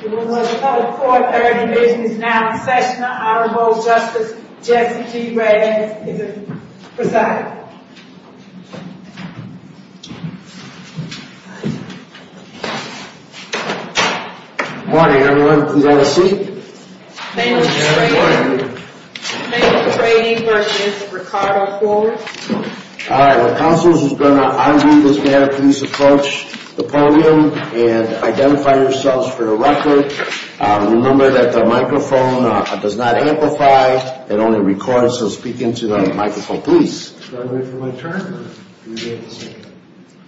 The Woodbridge Public Court Third Division is now in session. Honorable Justice Jesse G. Redding is the presiding. Good morning, everyone. Please have a seat. Thank you, Mr. Trading. Thank you, Mr. Trading v. Ricardo Forrer. Alright, when counsel is going to argue this matter, please approach the podium and identify yourselves for the record. Remember that the microphone does not amplify, it only records. So speak into the microphone, please. Can I wait for my turn?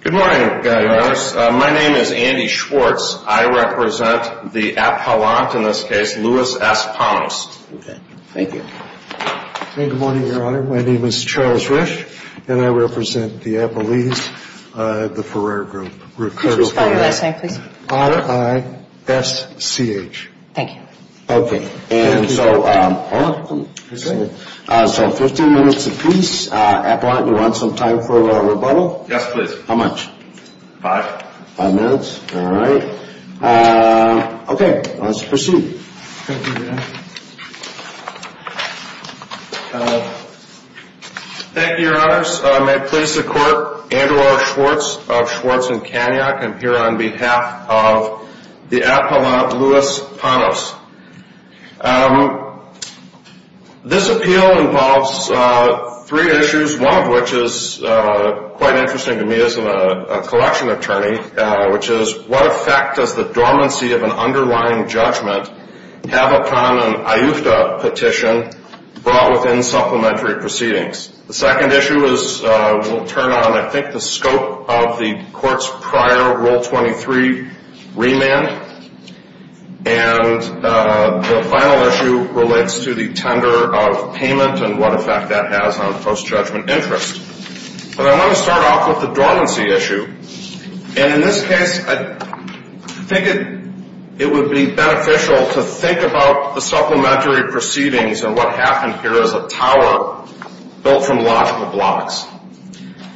Good morning, Your Honor. My name is Andy Schwartz. I represent the Appellant, in this case, Louis S. Panos. Thank you. Good morning, Your Honor. My name is Charles Risch, and I represent the Appellees, the Forrer Group. Could you spell your last name, please? R-I-S-C-H. Thank you. Okay, and so 15 minutes apiece. Appellant, you want some time for rebuttal? Yes, please. How much? Five. Five minutes, alright. Okay, let's proceed. Thank you, Your Honor. Thank you, Your Honors. May it please the Court, Andrew R. Schwartz of Schwartz & Kaniak. I'm here on behalf of the Appellant, Louis Panos. This appeal involves three issues, one of which is quite interesting to me as a collection attorney, which is what effect does the dormancy of an underlying judgment have upon an AYUFDA petition brought within supplementary proceedings? The second issue will turn on, I think, the scope of the Court's prior Rule 23 remand, and the final issue relates to the tender of payment and what effect that has on post-judgment interest. But I want to start off with the dormancy issue. And in this case, I think it would be beneficial to think about the supplementary proceedings and what happened here as a tower built from logical blocks.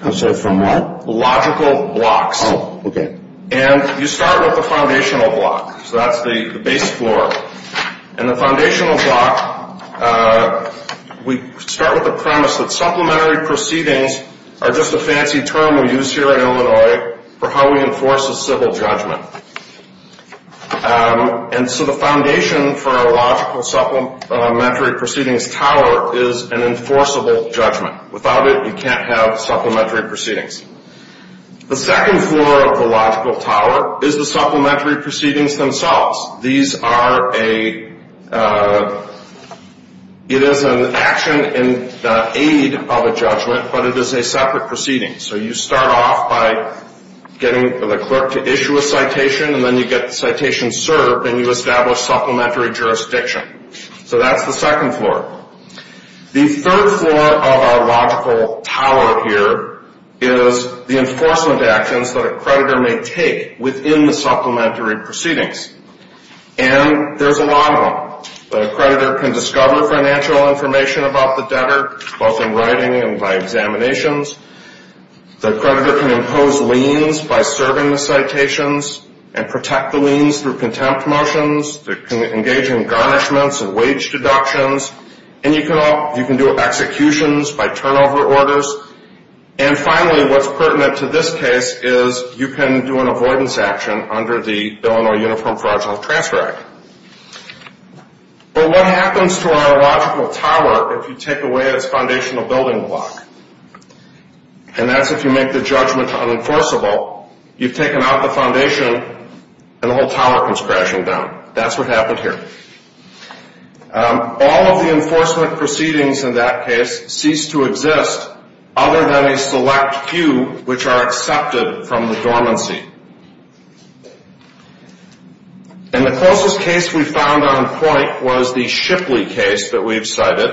I'm sorry, from what? Logical blocks. Oh, okay. And you start with the foundational block, so that's the base floor. And the foundational block, we start with the premise that supplementary proceedings are just a fancy term we use here in Illinois for how we enforce a civil judgment. And so the foundation for a logical supplementary proceedings tower is an enforceable judgment. Without it, you can't have supplementary proceedings. The second floor of the logical tower is the supplementary proceedings themselves. These are a, it is an action in the aid of a judgment, but it is a separate proceeding. So you start off by getting the clerk to issue a citation, and then you get the citation served, and you establish supplementary jurisdiction. So that's the second floor. The third floor of our logical tower here is the enforcement actions that a creditor may take within the supplementary proceedings. And there's a lot of them. The creditor can discover financial information about the debtor, both in writing and by examinations. The creditor can impose liens by serving the citations and protect the liens through contempt motions. They can engage in garnishments and wage deductions. And you can do executions by turnover orders. And finally, what's pertinent to this case is you can do an avoidance action under the Illinois Uniform Fraudulent Transfer Act. But what happens to our logical tower if you take away its foundational building block? And that's if you make the judgment unenforceable. You've taken out the foundation, and the whole tower comes crashing down. That's what happened here. All of the enforcement proceedings in that case cease to exist other than a select few, which are accepted from the dormancy. And the closest case we found on point was the Shipley case that we've cited.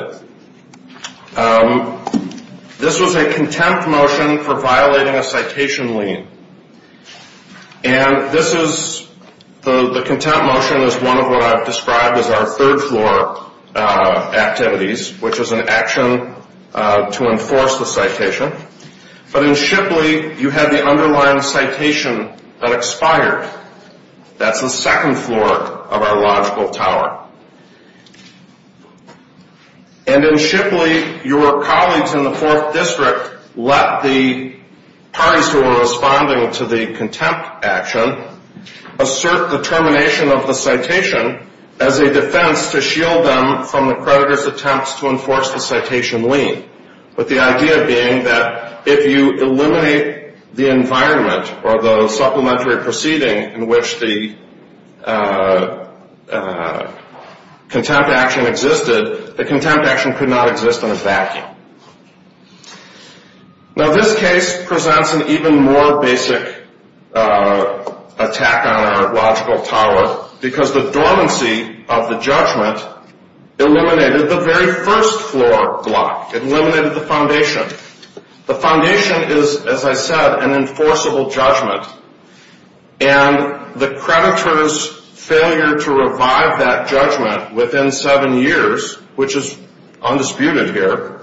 This was a contempt motion for violating a citation lien. And this is, the contempt motion is one of what I've described as our third floor activities, which is an action to enforce the citation. But in Shipley, you had the underlying citation that expired. That's the second floor of our logical tower. And in Shipley, your colleagues in the Fourth District let the parties who were responding to the contempt action assert the termination of the citation as a defense to shield them from the creditor's attempts to enforce the citation lien. But the idea being that if you eliminate the environment or the supplementary proceeding in which the contempt action existed, the contempt action could not exist in a vacuum. Now, this case presents an even more basic attack on our logical tower because the dormancy of the judgment eliminated the very first floor block. It eliminated the foundation. The foundation is, as I said, an enforceable judgment. And the creditor's failure to revive that judgment within seven years, which is undisputed here,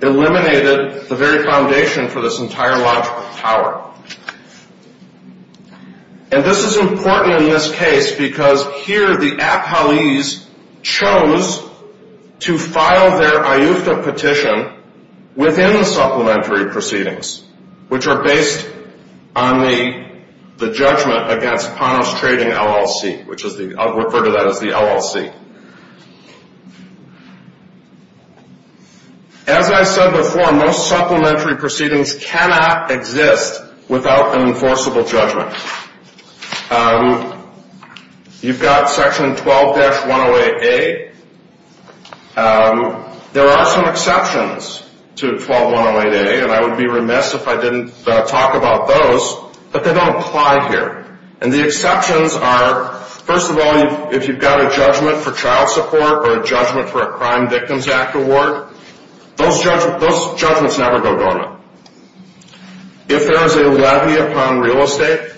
eliminated the very foundation for this entire logical tower. And this is important in this case because here the appellees chose to file their IUFTA petition within the supplementary proceedings, which are based on the judgment against Ponos Trading LLC, which I'll refer to that as the LLC. As I said before, most supplementary proceedings cannot exist without an enforceable judgment. You've got Section 12-108A. There are some exceptions to 12-108A, and I would be remiss if I didn't talk about those, but they don't apply here. And the exceptions are, first of all, if you've got a judgment for child support or a judgment for a Crime Victims Act award, those judgments never go government. If there is a levy upon real estate,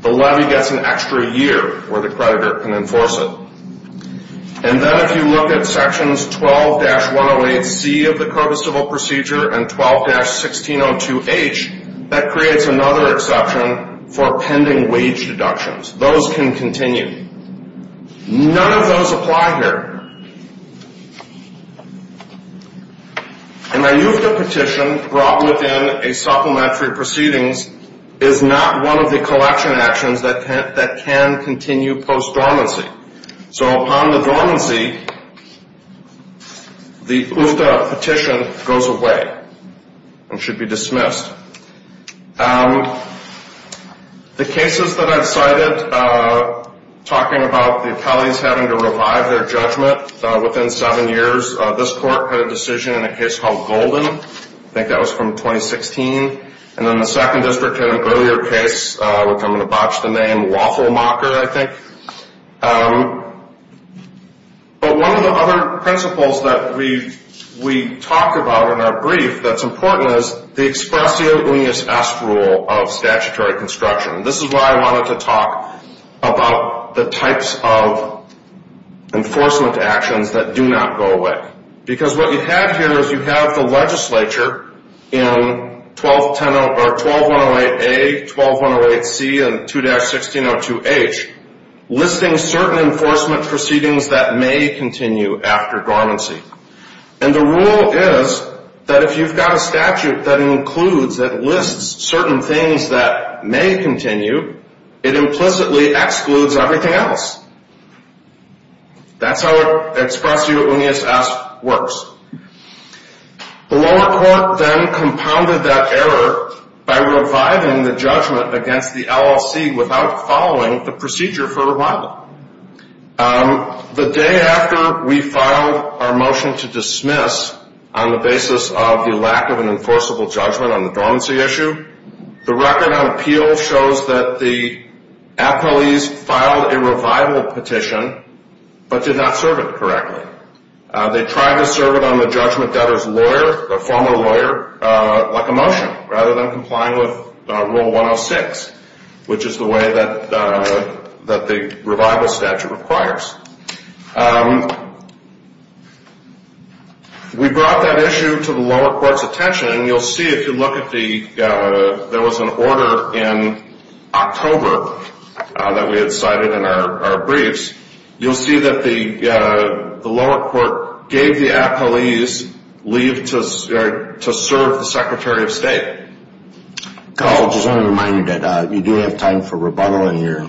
the levy gets an extra year where the creditor can enforce it. And then if you look at Sections 12-108C of the Code of Civil Procedure and 12-1602H, that creates another exception for pending wage deductions. Those can continue. None of those apply here. An IUFTA petition brought within a supplementary proceedings is not one of the collection actions that can continue post-dormancy. So upon the dormancy, the IUFTA petition goes away and should be dismissed. The cases that I've cited talking about the appellees having to revive their judgment within seven years, this court had a decision in a case called Golden. I think that was from 2016. And then the second district had an earlier case, which I'm going to botch the name, Waffle Mocker, I think. But one of the other principles that we talked about in our brief that's important is the expressio unius est rule of statutory construction. This is why I wanted to talk about the types of enforcement actions that do not go away. Because what you have here is you have the legislature in 12-108A, 12-108C, and 2-1602H listing certain enforcement proceedings that may continue after dormancy. And the rule is that if you've got a statute that includes, that lists certain things that may continue, it implicitly excludes everything else. That's how expressio unius est works. The lower court then compounded that error by reviving the judgment against the LLC without following the procedure for revival. The day after we filed our motion to dismiss on the basis of the lack of an enforceable judgment on the dormancy issue, the record on appeal shows that the appellees filed a revival petition but did not serve it correctly. They tried to serve it on the judgment debtor's lawyer, the former lawyer, like a motion, rather than complying with Rule 106, which is the way that the revival statute requires. We brought that issue to the lower court's attention, and you'll see if you look at the, there was an order in October that we had cited in our briefs, you'll see that the lower court gave the appellees leave to serve the Secretary of State. Carl, I just want to remind you that you do have time for rebuttal, and you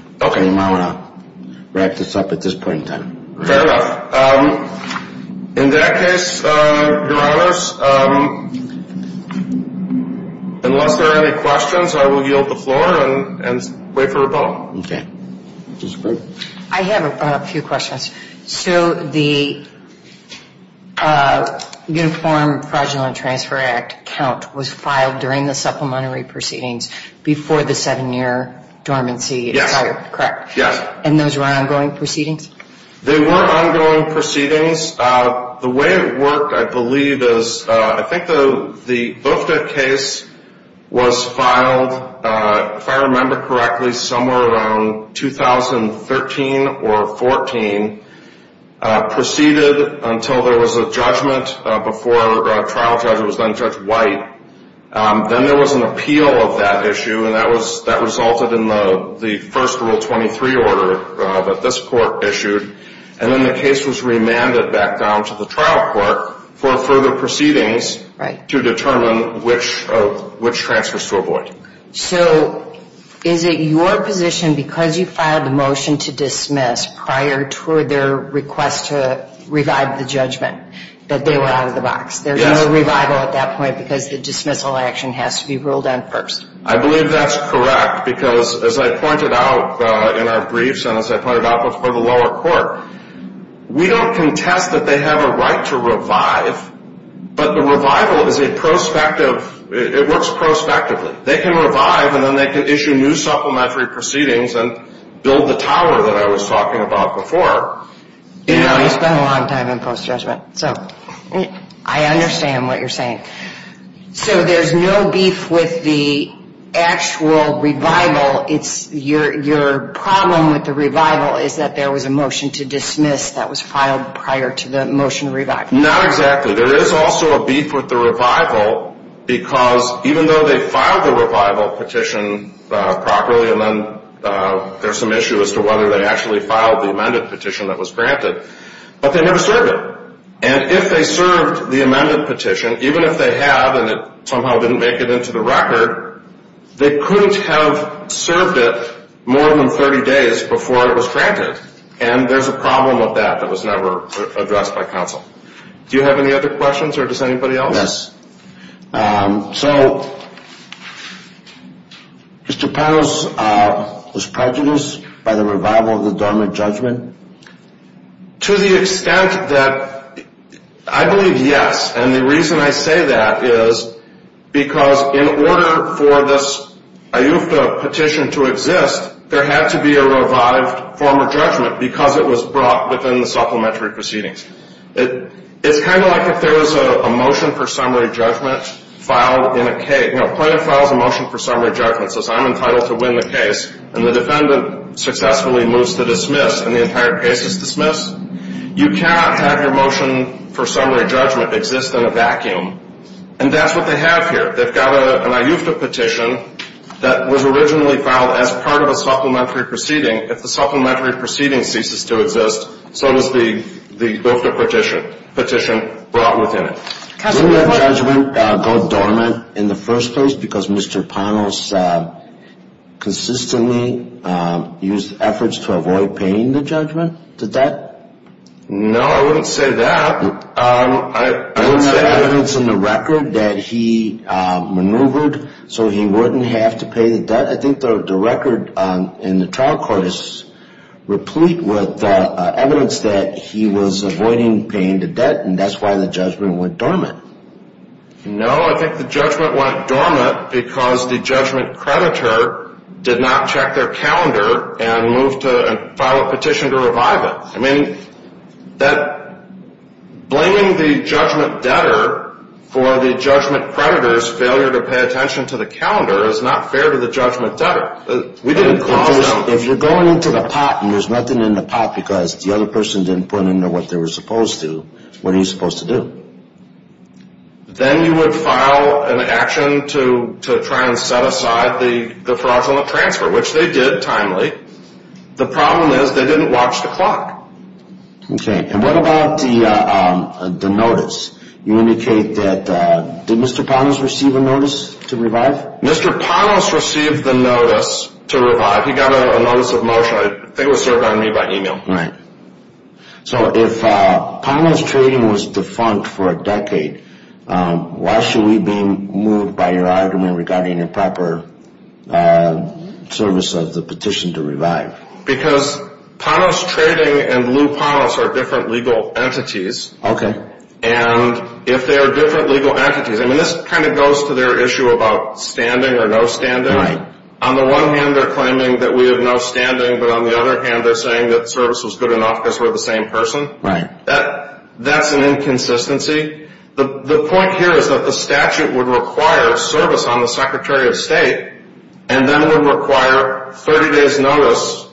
might want to wrap this up at this point in time. Fair enough. In that case, Your Honors, unless there are any questions, I will yield the floor and wait for rebuttal. Okay. I have a few questions. So the Uniform Fraudulent Transfer Act count was filed during the supplementary proceedings before the seven-year dormancy? Yes. Correct? Yes. And those were ongoing proceedings? They were ongoing proceedings. The way it worked, I believe, is I think the Boofta case was filed, if I remember correctly, somewhere around 2013 or 14, proceeded until there was a judgment before a trial judge was then Judge White. Then there was an appeal of that issue, and that resulted in the first Rule 23 order that this court issued. And then the case was remanded back down to the trial court for further proceedings to determine which transfers to avoid. So is it your position, because you filed a motion to dismiss prior to their request to revive the judgment, that they were out of the box? Yes. There was no revival at that point because the dismissal action has to be ruled on first? I believe that's correct because, as I pointed out in our briefs and as I pointed out before the lower court, we don't contest that they have a right to revive, but the revival is a prospective, it works prospectively. They can revive and then they can issue new supplementary proceedings and build the tower that I was talking about before. You know, you spend a long time in post-judgment, so I understand what you're saying. So there's no beef with the actual revival. Your problem with the revival is that there was a motion to dismiss that was filed prior to the motion to revive. Not exactly. There is also a beef with the revival because even though they filed the revival petition properly and then there's some issue as to whether they actually filed the amended petition that was granted, but they never served it. And if they served the amended petition, even if they had and it somehow didn't make it into the record, they couldn't have served it more than 30 days before it was granted, and there's a problem with that that was never addressed by counsel. Do you have any other questions or does anybody else? Yes. So, Mr. Powell's prejudice by the revival of the dormant judgment? To the extent that I believe yes, and the reason I say that is because in order for this IUFTA petition to exist, there had to be a revived former judgment because it was brought within the supplementary proceedings. It's kind of like if there was a motion for summary judgment filed in a case. You know, a plaintiff files a motion for summary judgment, says I'm entitled to win the case, and the defendant successfully moves to dismiss and the entire case is dismissed? You cannot have your motion for summary judgment exist in a vacuum, and that's what they have here. They've got an IUFTA petition that was originally filed as part of a supplementary proceeding. If the supplementary proceeding ceases to exist, so does the IUFTA petition brought within it. Didn't that judgment go dormant in the first place because Mr. Ponos consistently used efforts to avoid paying the judgment to debt? No, I wouldn't say that. I wouldn't say that. I don't have evidence in the record that he maneuvered so he wouldn't have to pay the debt. I think the record in the trial court is replete with evidence that he was avoiding paying the debt, and that's why the judgment went dormant. No, I think the judgment went dormant because the judgment creditor did not check their calendar and moved to file a petition to revive it. I mean, blaming the judgment debtor for the judgment creditor's failure to pay attention to the calendar is not fair to the judgment debtor. If you're going into the pot and there's nothing in the pot because the other person didn't put in what they were supposed to, what are you supposed to do? Then you would file an action to try and set aside the fraudulent transfer, which they did timely. The problem is they didn't watch the clock. Okay, and what about the notice? You indicate that, did Mr. Ponos receive a notice to revive? Mr. Ponos received the notice to revive. He got a notice of motion. I think it was served on me by email. Right. So if Ponos Trading was defunct for a decade, why should we be moved by your argument regarding improper service of the petition to revive? Because Ponos Trading and Blue Ponos are different legal entities. Okay. And if they are different legal entities, I mean, this kind of goes to their issue about standing or no standing. On the one hand, they're claiming that we have no standing, but on the other hand they're saying that service was good enough because we're the same person. Right. That's an inconsistency. The point here is that the statute would require service on the Secretary of State and then would require 30 days' notice.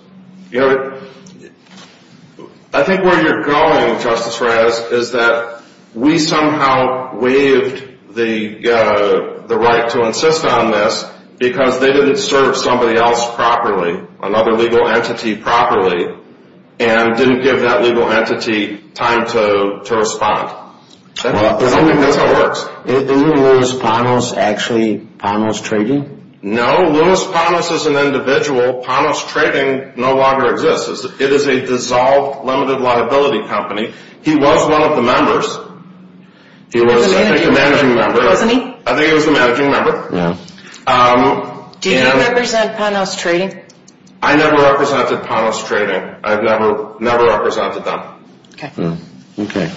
I think where you're going, Justice Reyes, is that we somehow waived the right to insist on this because they didn't serve somebody else properly, another legal entity properly, and didn't give that legal entity time to respond. I don't think that's how it works. Isn't Louis Ponos actually Ponos Trading? No. Louis Ponos is an individual. Ponos Trading no longer exists. It is a dissolved, limited liability company. He was one of the members. He was, I think, a managing member. Wasn't he? I think he was the managing member. Yeah. Do you represent Ponos Trading? I never represented Ponos Trading. I've never represented them. Okay. Okay.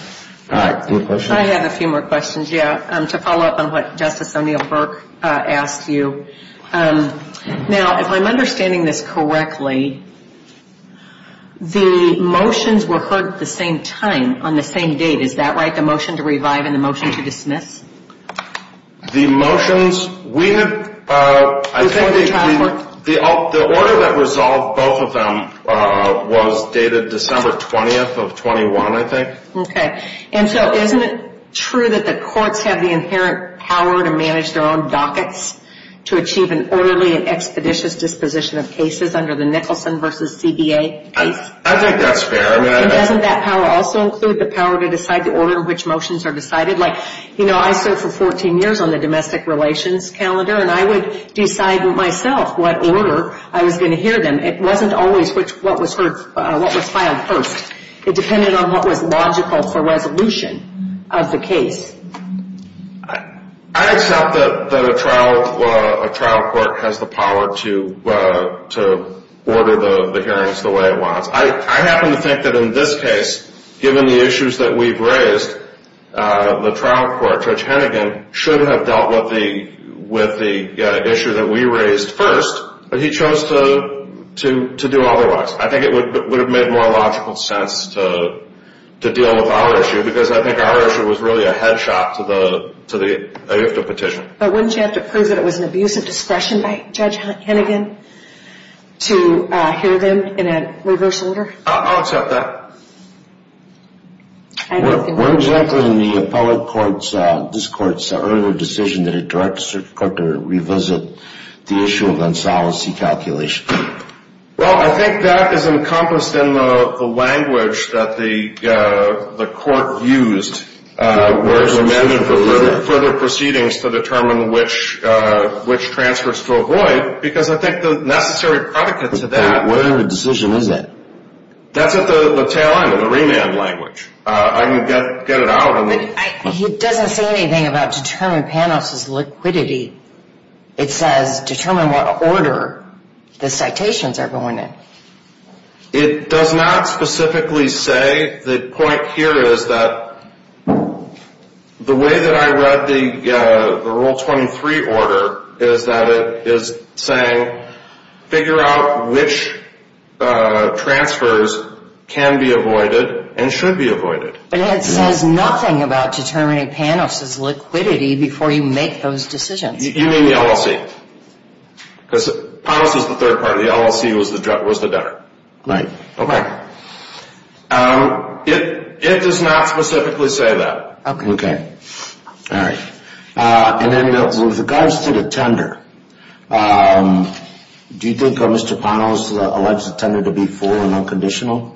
All right. Any questions? I have a few more questions, yeah, to follow up on what Justice O'Neill Burke asked you. Now, if I'm understanding this correctly, the motions were heard at the same time, on the same date. Is that right, the motion to revive and the motion to dismiss? The motions, I think the order that resolved both of them was dated December 20th of 21, I think. Okay. And so isn't it true that the courts have the inherent power to manage their own dockets to achieve an orderly and expeditious disposition of cases under the Nicholson v. CBA case? I think that's fair. And doesn't that power also include the power to decide the order in which motions are decided? Like, you know, I served for 14 years on the domestic relations calendar, and I would decide myself what order I was going to hear them. It wasn't always what was filed first. It depended on what was logical for resolution of the case. I accept that a trial court has the power to order the hearings the way it wants. I happen to think that in this case, given the issues that we've raised, the trial court, Judge Hennigan, should have dealt with the issue that we raised first, but he chose to do otherwise. I think it would have made more logical sense to deal with our issue, because I think our issue was really a head shot to the IFTA petition. But wouldn't you have to prove that it was an abuse of discretion by Judge Hennigan to hear them in a reverse order? I'll accept that. When exactly in the appellate court's earlier decision did a direct district court revisit the issue of unsoliced e-calculation? Well, I think that is encompassed in the language that the court used where it's amended for further proceedings to determine which transfers to avoid, because I think the necessary predicate to that. What kind of decision is that? That's at the tail end of the remand language. I can get it out. But he doesn't say anything about determine Panoff's liquidity. It says determine what order the citations are going in. It does not specifically say. I think the point here is that the way that I read the Rule 23 order is that it is saying figure out which transfers can be avoided and should be avoided. But it says nothing about determining Panoff's liquidity before you make those decisions. You mean the LLC? Because Panoff's was the third party. The LLC was the debtor. Right. Okay. It does not specifically say that. Okay. All right. And then with regards to the tender, do you think Mr. Panoff's alleged the tender to be full and unconditional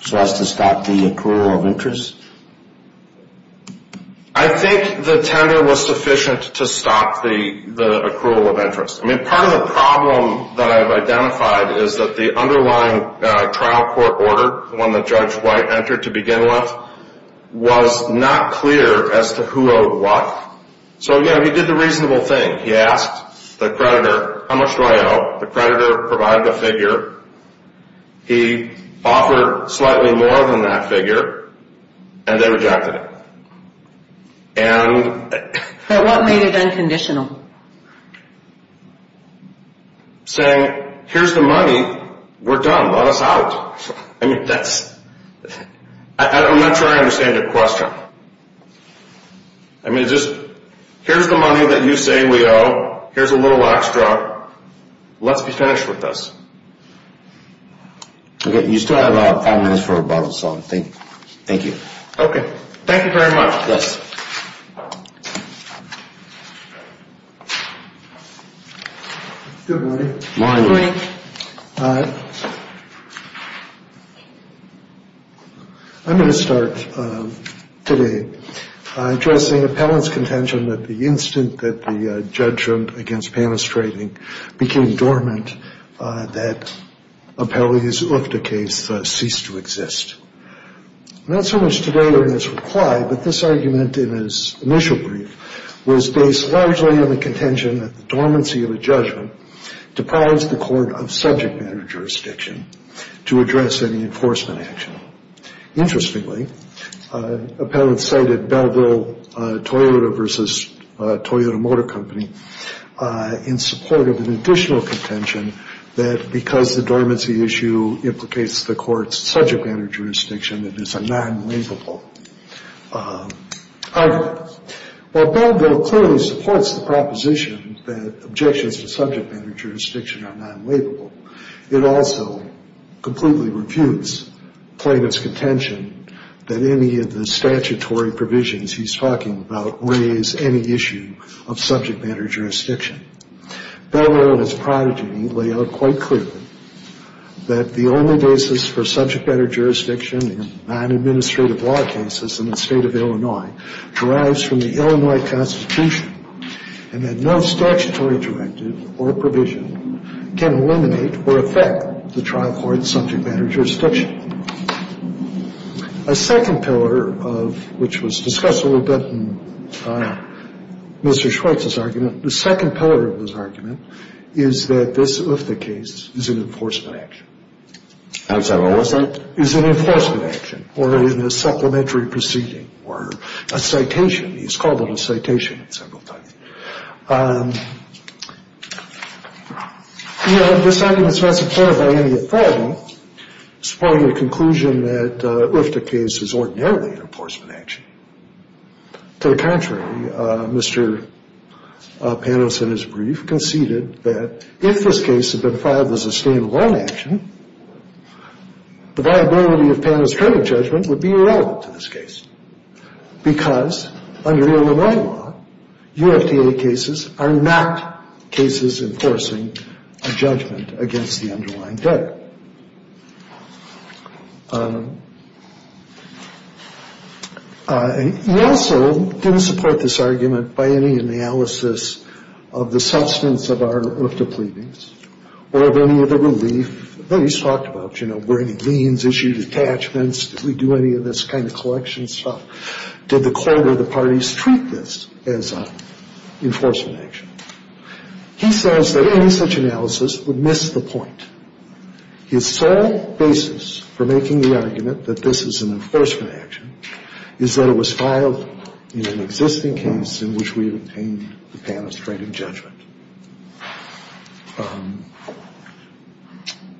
so as to stop the accrual of interest? I think the tender was sufficient to stop the accrual of interest. I mean, part of the problem that I've identified is that the underlying trial court order, the one that Judge White entered to begin with, was not clear as to who owed what. So, again, he did the reasonable thing. He asked the creditor, how much do I owe? The creditor provided a figure. He offered slightly more than that figure, and they rejected it. But what made it unconditional? Saying, here's the money. We're done. Let us out. I mean, I'm not sure I understand your question. I mean, here's the money that you say we owe. Here's a little extra. Let's be finished with this. Okay. You still have five minutes for a bottle of salt. Thank you. Okay. Thank you very much. Yes. Good morning. Good morning. Hi. I'm going to start today addressing appellant's contention that the instant that the judgment against Panis became dormant, that Appellee's UFDA case ceased to exist. Not so much today as it was implied, but this argument in his initial brief was based largely on the contention that the dormancy of a judgment deprives the court of subject matter jurisdiction to address any enforcement action. Interestingly, appellant cited Belleville Toyota versus Toyota Motor Company in support of an additional contention that because the dormancy issue implicates the court's subject matter jurisdiction, it is a non-labelable argument. While Belleville clearly supports the proposition that objections to subject matter jurisdiction are non-labelable, it also completely refutes plaintiff's contention that any of the statutory provisions he's talking about raise any issue of subject matter jurisdiction. Belleville and his prodigy lay out quite clearly that the only basis for subject matter jurisdiction in non-administrative law cases in the state of Illinois derives from the Illinois Constitution and that no statutory directive or provision can eliminate or affect the trial court's subject matter jurisdiction. A second pillar of which was discussed a little bit in Mr. Schweitz's argument, the second pillar of his argument is that this UFDA case is an enforcement action. I'm sorry, what was that? Is an enforcement action or in a supplementary proceeding or a citation. He's called it a citation several times. You know, this argument is not supported by any authority, supporting the conclusion that UFDA case is ordinarily an enforcement action. To the contrary, Mr. Panos in his brief conceded that if this case had been filed as a stand-alone action, the viability of Panos' current judgment would be irrelevant to this case because under the Illinois law, UFDA cases are not cases enforcing a judgment against the underlying debtor. He also didn't support this argument by any analysis of the substance of our UFDA pleadings or of any of the relief that he's talked about, you know, were any liens issued, attachments, did we do any of this kind of collection stuff, did the court or the parties treat this as an enforcement action. He says that any such analysis would miss the point. His sole basis for making the argument that this is an enforcement action is that it was filed in an existing case in which we obtained the Panos' current judgment.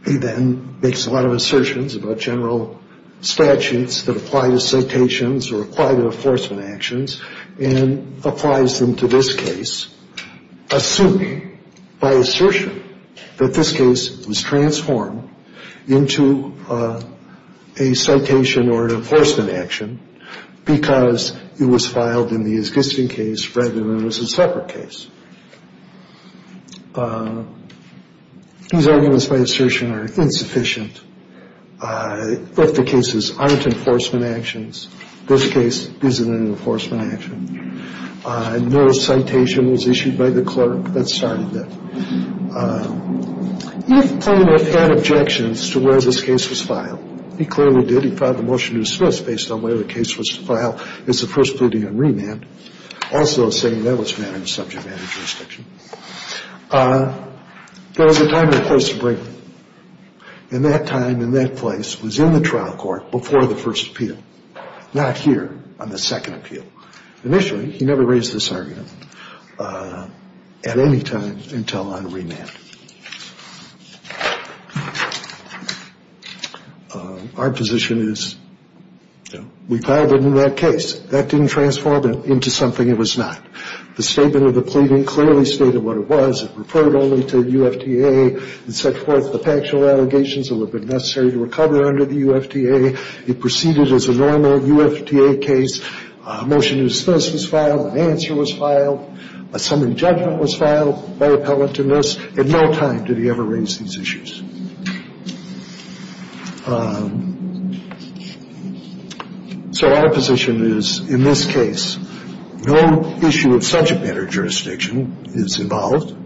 He then makes a lot of assertions about general statutes that apply to citations or apply to enforcement actions and applies them to this case, assuming by assertion that this case was transformed into a citation or an enforcement action because it was filed in the existing case rather than it was a separate case. These arguments by assertion are insufficient. UFDA cases aren't enforcement actions. This case isn't an enforcement action. No citation was issued by the clerk that started it. UFDA had objections to where this case was filed. He clearly did. He filed a motion to dismiss based on where the case was filed. It's the first pleading on remand. Also saying that was managed subject matter jurisdiction. There was a time and a place to bring it. And that time and that place was in the trial court before the first appeal, not here on the second appeal. Initially, he never raised this argument at any time until on remand. Our position is we filed it in that case. That didn't transform it into something it was not. The statement of the pleading clearly stated what it was. It referred only to UFDA. It set forth the factual allegations that would have been necessary to recover under the UFDA. It proceeded as a normal UFDA case. A motion to dismiss was filed. An answer was filed. A summary judgment was filed by appellant to nurse. At no time did he ever raise these issues. So our position is in this case, no issue of subject matter jurisdiction is involved,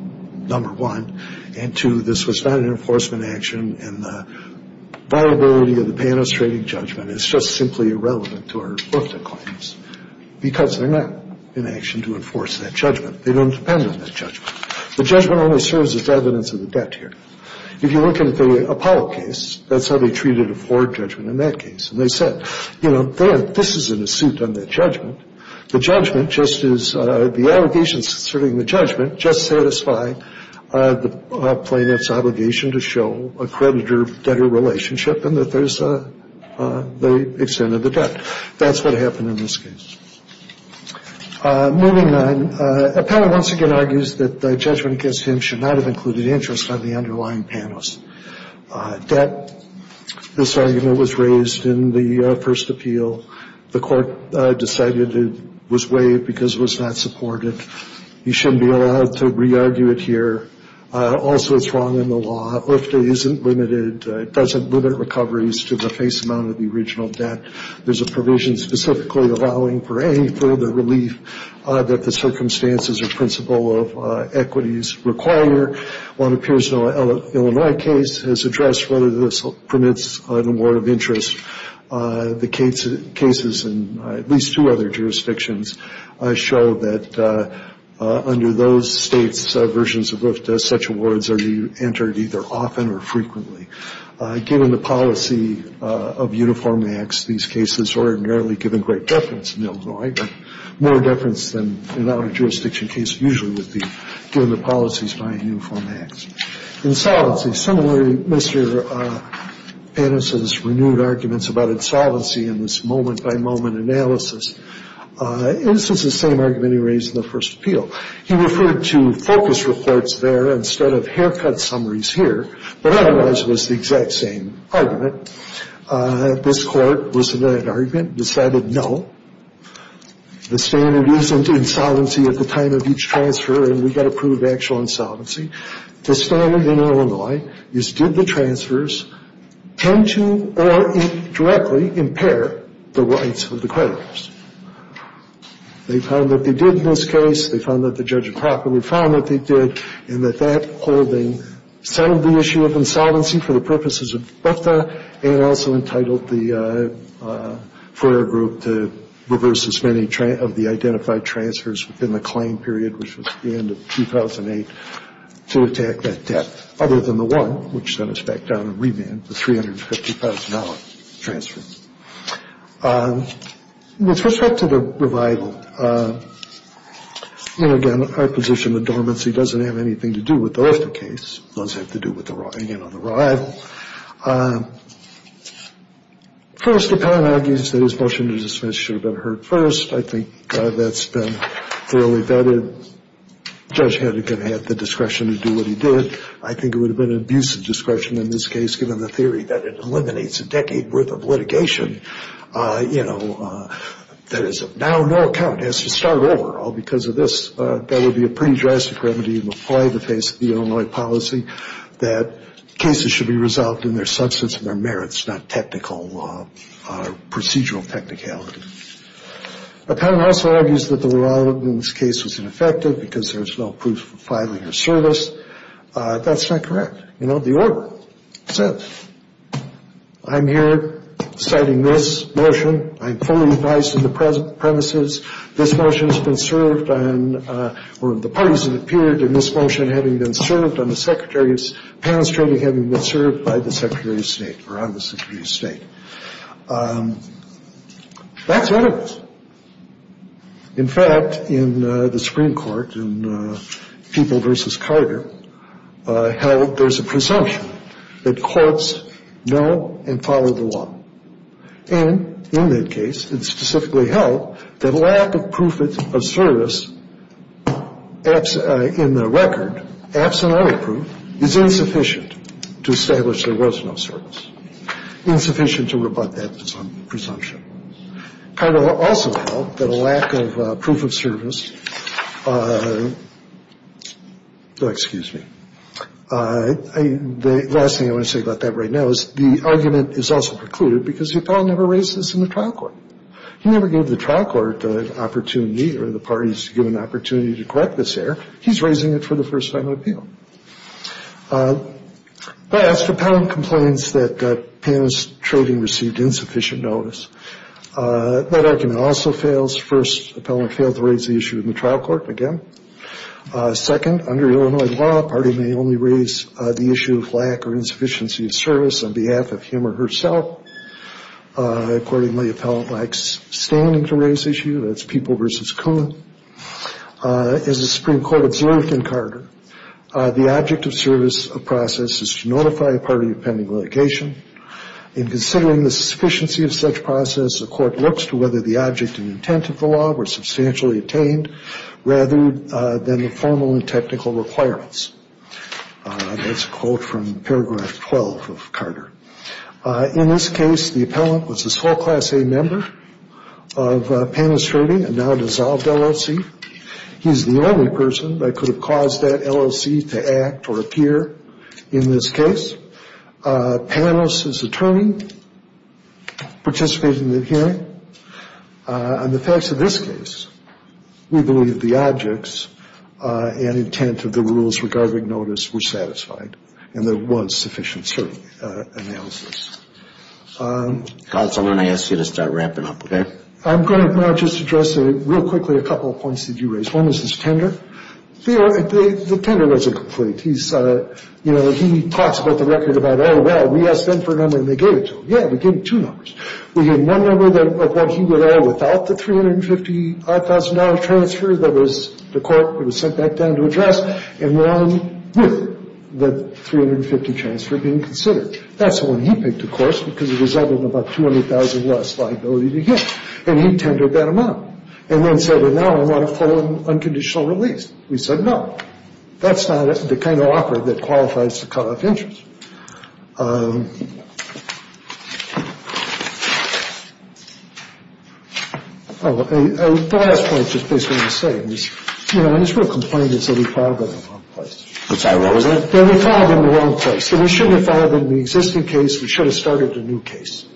number one. And two, this was not an enforcement action. And the viability of the panelist rating judgment is just simply irrelevant to our UFDA claims. Because they're not in action to enforce that judgment. They don't depend on that judgment. The judgment only serves as evidence of the debt here. If you look at the Apollo case, that's how they treated a Ford judgment in that case. And they said, you know, this isn't a suit on that judgment. The judgment just is the allegations asserting the judgment just satisfy the plaintiff's obligation to show a creditor-debtor relationship and that there's the extent of the debt. That's what happened in this case. Moving on, appellant once again argues that the judgment against him should not have included interest on the underlying panelist. Debt, this argument was raised in the first appeal. The court decided it was waived because it was not supported. He shouldn't be allowed to re-argue it here. Also, it's wrong in the law. UFDA isn't limited, doesn't limit recoveries to the face amount of the original debt. There's a provision specifically allowing for any further relief that the circumstances or principle of equities require. One appears in an Illinois case has addressed whether this permits an award of interest. The cases in at least two other jurisdictions show that under those states' versions of UFDA, such awards are entered either often or frequently. Given the policy of uniform acts, these cases are ordinarily given great deference in Illinois, but more deference than in our jurisdiction case usually would be given the policies by uniform acts. Insolvency. Similarly, Mr. Pannis's renewed arguments about insolvency in this moment-by-moment analysis. This is the same argument he raised in the first appeal. He referred to focus reports there instead of haircut summaries here. But otherwise, it was the exact same argument. This Court was in that argument, decided no, the standard isn't insolvency at the time of each transfer and we've got to prove actual insolvency. The standard in Illinois is did the transfers tend to or directly impair the rights of the creditors? They found that they did in this case. They found that the judge improperly found that they did and that that holding settled the issue of insolvency for the purposes of UFDA and also entitled the Foyer Group to reverse as many of the identified transfers within the claim period, which was the end of 2008, to attack that debt other than the one which sent us back down in remand, the $350,000 transfer. With respect to the revival, again, our position of dormancy doesn't have anything to do with the UFDA case. It does have to do, again, with the revival. First, the panel argues that his motion to dismiss should have been heard first. I think that's been thoroughly vetted. The judge had the discretion to do what he did. I think it would have been an abusive discretion in this case, given the theory that it eliminates a decade worth of litigation that is of now no account. It has to start over all because of this. That would be a pretty drastic remedy in the play, the face of the Illinois policy, that cases should be resolved in their substance and their merits, not technical procedural technicality. The panel also argues that the revival in this case was ineffective because there's no proof of filing or service. That's not correct. You know, the order says, I'm here citing this motion. I'm fully advised in the premises. This motion has been served on, or the parties that appeared in this motion having been served on the Secretary's panel, certainly having been served by the Secretary of State or on the Secretary of State. That's what it was. In fact, in the Supreme Court, in People v. Carter, held there's a presumption that courts know and follow the law. And in that case, it's specifically held that lack of proof of service in the record, absent all the proof, is insufficient to establish there was no service, insufficient to rebut that presumption. Carter also held that a lack of proof of service, excuse me, the last thing I want to say about that right now is the argument is also precluded because the appellant never raised this in the trial court. He never gave the trial court the opportunity or the parties given the opportunity to correct this error. He's raising it for the first time in appeal. Last, appellant complains that penetrating received insufficient notice. That argument also fails. First, appellant failed to raise the issue in the trial court again. Second, under Illinois law, party may only raise the issue of lack or insufficiency of service on behalf of him or herself. Accordingly, appellant likes standing to raise issue. That's People v. Coon. As the Supreme Court observed in Carter, the object of service of process is to notify a party of pending litigation. In considering the sufficiency of such process, the court looks to whether the object and intent of the law were substantially attained rather than the formal and technical requirements. That's a quote from paragraph 12 of Carter. In this case, the appellant was a school class A member of panelist rating and now dissolved LLC. He's the only person that could have caused that LLC to act or appear in this case. Panelist is attorney participating in the hearing. On the facts of this case, we believe the objects and intent of the rules regarding notice were satisfied and there was sufficient analysis. Counsel, I'm going to ask you to start wrapping up, okay? I'm going to now just address real quickly a couple of points that you raised. One is his tender. The tender wasn't complete. He talks about the record about, oh, well, we asked them for a number and they gave it to him. Yeah, they gave him two numbers. We had one number of what he would owe without the $355,000 transfer that the court would have sent back down to address and one with the $350,000 transfer being considered. That's the one he picked, of course, because it resulted in about $200,000 loss of liability to him. And he tendered that amount. And then said, well, now I want a full and unconditional release. We said no. That's not the kind of offer that qualifies to cut off interest. The last point just basically I want to say is, you know, I just want to complain that we filed it in the wrong place. Which I wrote. We filed it in the wrong place. We shouldn't have filed it in the existing case. We should have started a new case.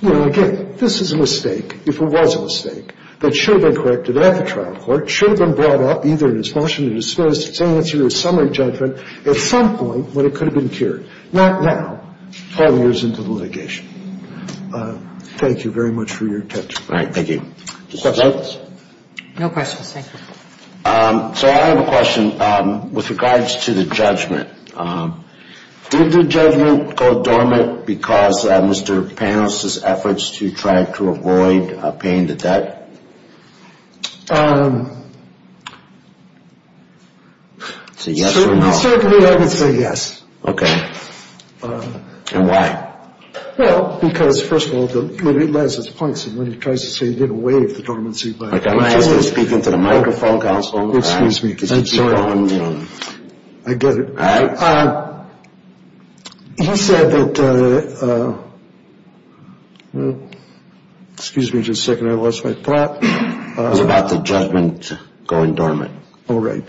You know, again, this is a mistake, if it was a mistake, that should have been corrected at the trial court, should have been brought up either in his motion or his first answer or his summary judgment at some point when it could have been cured. Not now, 12 years into the litigation. Thank you very much for your attention. Thank you. Questions? No questions. Thank you. So I have a question with regards to the judgment. Did the judgment go dormant because of Mr. Panos' efforts to try to avoid paying the debt? Say yes or no. Certainly I would say yes. Okay. And why? Well, because, first of all, it lends its points. And when he tries to say he didn't waive the dormancy by any means. I'm just going to speak into the microphone, counsel. Excuse me. I'm sorry. I get it. He said that, well, excuse me just a second, I lost my thought. It was about the judgment going dormant. Oh, right.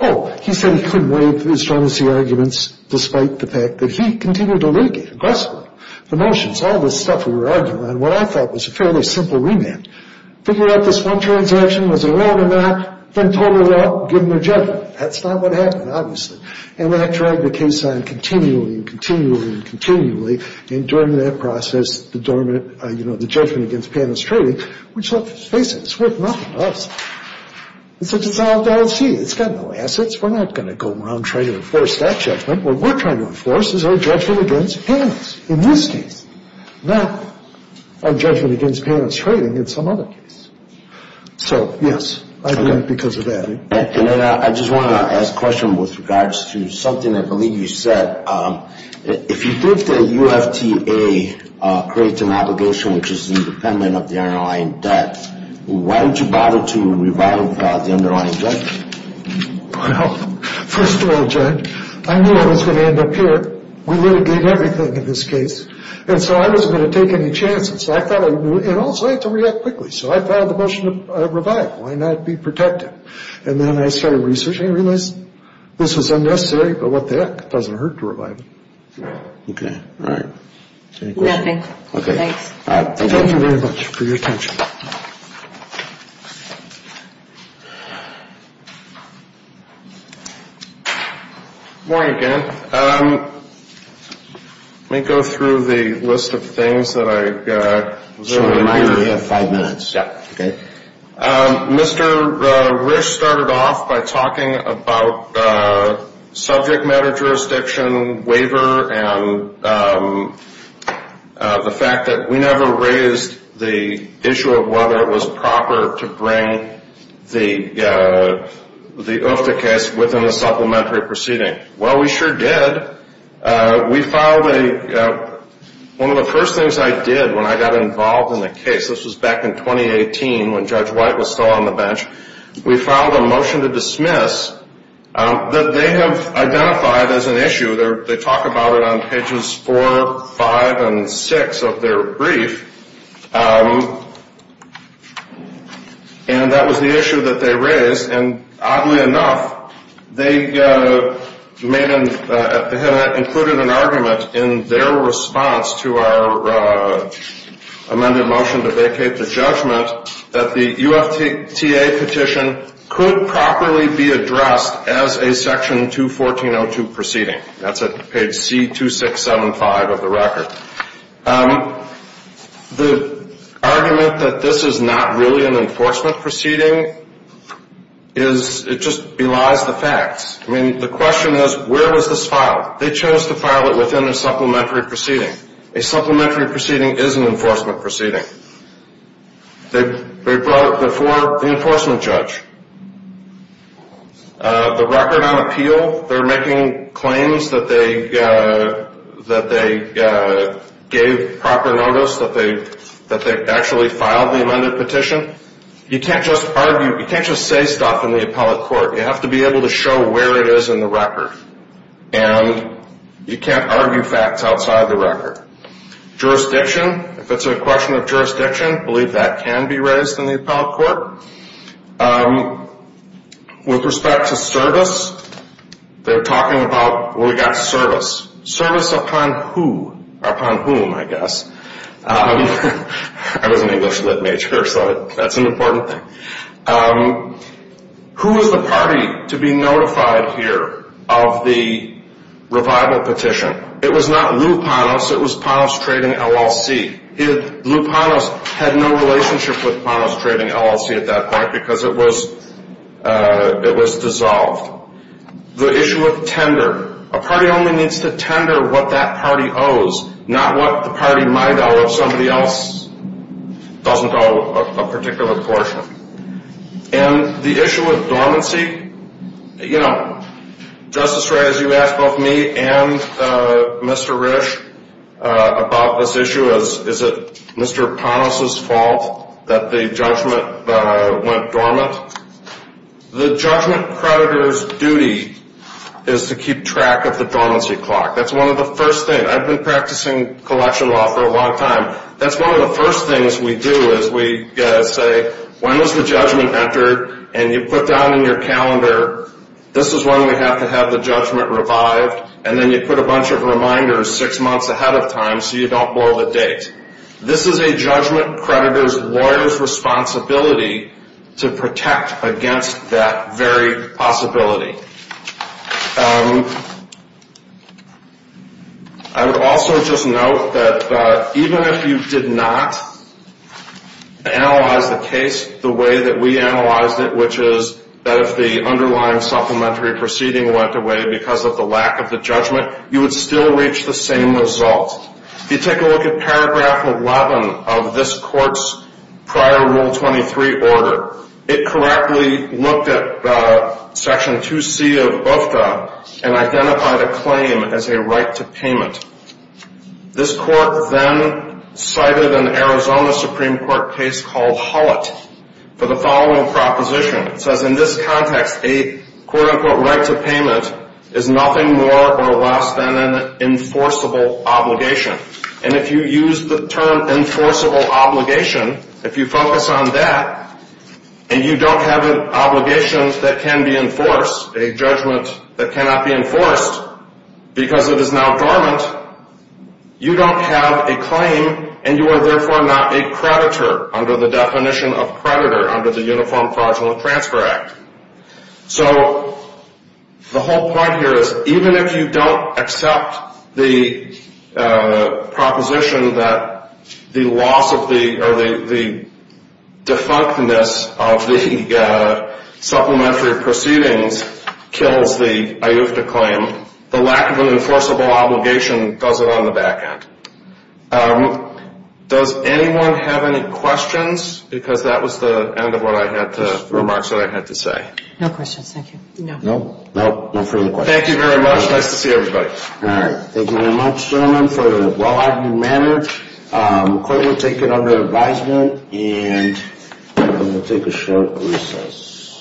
Oh, he said he couldn't waive his dormancy arguments despite the fact that he continued to litigate aggressively. So the motions, all this stuff we were arguing on, what I thought was a fairly simple remand. Figured out this one transaction was a loan amount, then told it off, given their judgment. That's not what happened, obviously. And that dragged the case on continually and continually and continually. And during that process, the judgment against Panos trading, which, let's face it, it's worth nothing to us. It's a dissolved LLC. It's got no assets. We're not going to go around trying to enforce that judgment. What we're trying to enforce is our judgment against Panos in this case, not our judgment against Panos trading in some other case. So, yes, I agree because of that. And then I just want to ask a question with regards to something I believe you said. If you think that UFTA creates an obligation which is independent of the underlying debt, why would you bother to revile the underlying judgment? Well, first of all, Judge, I knew I was going to end up here. We litigated everything in this case. And so I wasn't going to take any chances. And also, I had to react quickly. So I filed the motion to revile. Why not be protective? And then I started researching and realized this was unnecessary, but what the heck. It doesn't hurt to revile. Okay. All right. Any questions? Nothing. Okay. Thanks. Thank you very much for your attention. Good morning again. Let me go through the list of things that I was able to do. You have five minutes. Yes. Okay. Mr. Risch started off by talking about subject matter jurisdiction waiver and the fact that we never raised the issue of whether it was proper to bring the UFTA case within a supplementary proceeding. Well, we sure did. We filed a – one of the first things I did when I got involved in the case, this was back in 2018 when Judge White was still on the bench, we filed a motion to dismiss that they have identified as an issue. They talk about it on pages four, five, and six of their brief. And that was the issue that they raised. And oddly enough, they made an – had included an argument in their response to our amended motion to vacate the judgment that the UFTA petition could properly be addressed as a Section 214.02 proceeding. That's at page C2675 of the record. The argument that this is not really an enforcement proceeding is – it just belies the facts. I mean, the question is, where was this filed? They chose to file it within a supplementary proceeding. A supplementary proceeding is an enforcement proceeding. They brought it before the enforcement judge. The record on appeal, they're making claims that they gave proper notice that they actually filed the amended petition. You can't just argue – you can't just say stuff in the appellate court. You have to be able to show where it is in the record. And you can't argue facts outside the record. Jurisdiction, if it's a question of jurisdiction, I believe that can be raised in the appellate court. With respect to service, they're talking about – well, we've got service. Service upon who? Upon whom, I guess. I was an English lit major, so that's an important thing. Who is the party to be notified here of the revival petition? It was not Lou Panos. It was Panos Trading LLC. Lou Panos had no relationship with Panos Trading LLC at that point because it was dissolved. The issue of tender. A party only needs to tender what that party owes, not what the party might owe if somebody else doesn't owe a particular portion. And the issue of dormancy. Justice Reyes, you asked both me and Mr. Risch about this issue. Is it Mr. Panos' fault that the judgment went dormant? The judgment creditor's duty is to keep track of the dormancy clock. That's one of the first things. I've been practicing collection law for a long time. That's one of the first things we do is we say, When was the judgment entered? And you put down in your calendar, this is when we have to have the judgment revived. And then you put a bunch of reminders six months ahead of time so you don't blow the date. This is a judgment creditor's lawyer's responsibility to protect against that very possibility. I would also just note that even if you did not analyze the case the way that we analyzed it, which is that if the underlying supplementary proceeding went away because of the lack of the judgment, you would still reach the same result. If you take a look at paragraph 11 of this court's prior Rule 23 order, it correctly looked at Section 2C of UFTA and identified a claim as a right to payment. This court then cited an Arizona Supreme Court case called Hullett for the following proposition. It says, In this context, a quote-unquote right to payment is nothing more or less than an enforceable obligation. And if you use the term enforceable obligation, if you focus on that and you don't have an obligation that can be enforced, a judgment that cannot be enforced because it is now dormant, you don't have a claim and you are therefore not a creditor under the definition of creditor under the Uniform Fraudulent Transfer Act. So the whole point here is even if you don't accept the proposition that the loss of the or the defunctness of the supplementary proceedings kills the UFTA claim, the lack of an enforceable obligation does it on the back end. Does anyone have any questions? Because that was the end of what I had to remarks that I had to say. No questions. Thank you. No further questions. Thank you very much. Nice to see everybody. All right. Thank you very much, gentlemen, for the well-argued manner. The court will take it under advisement and we will take a short recess.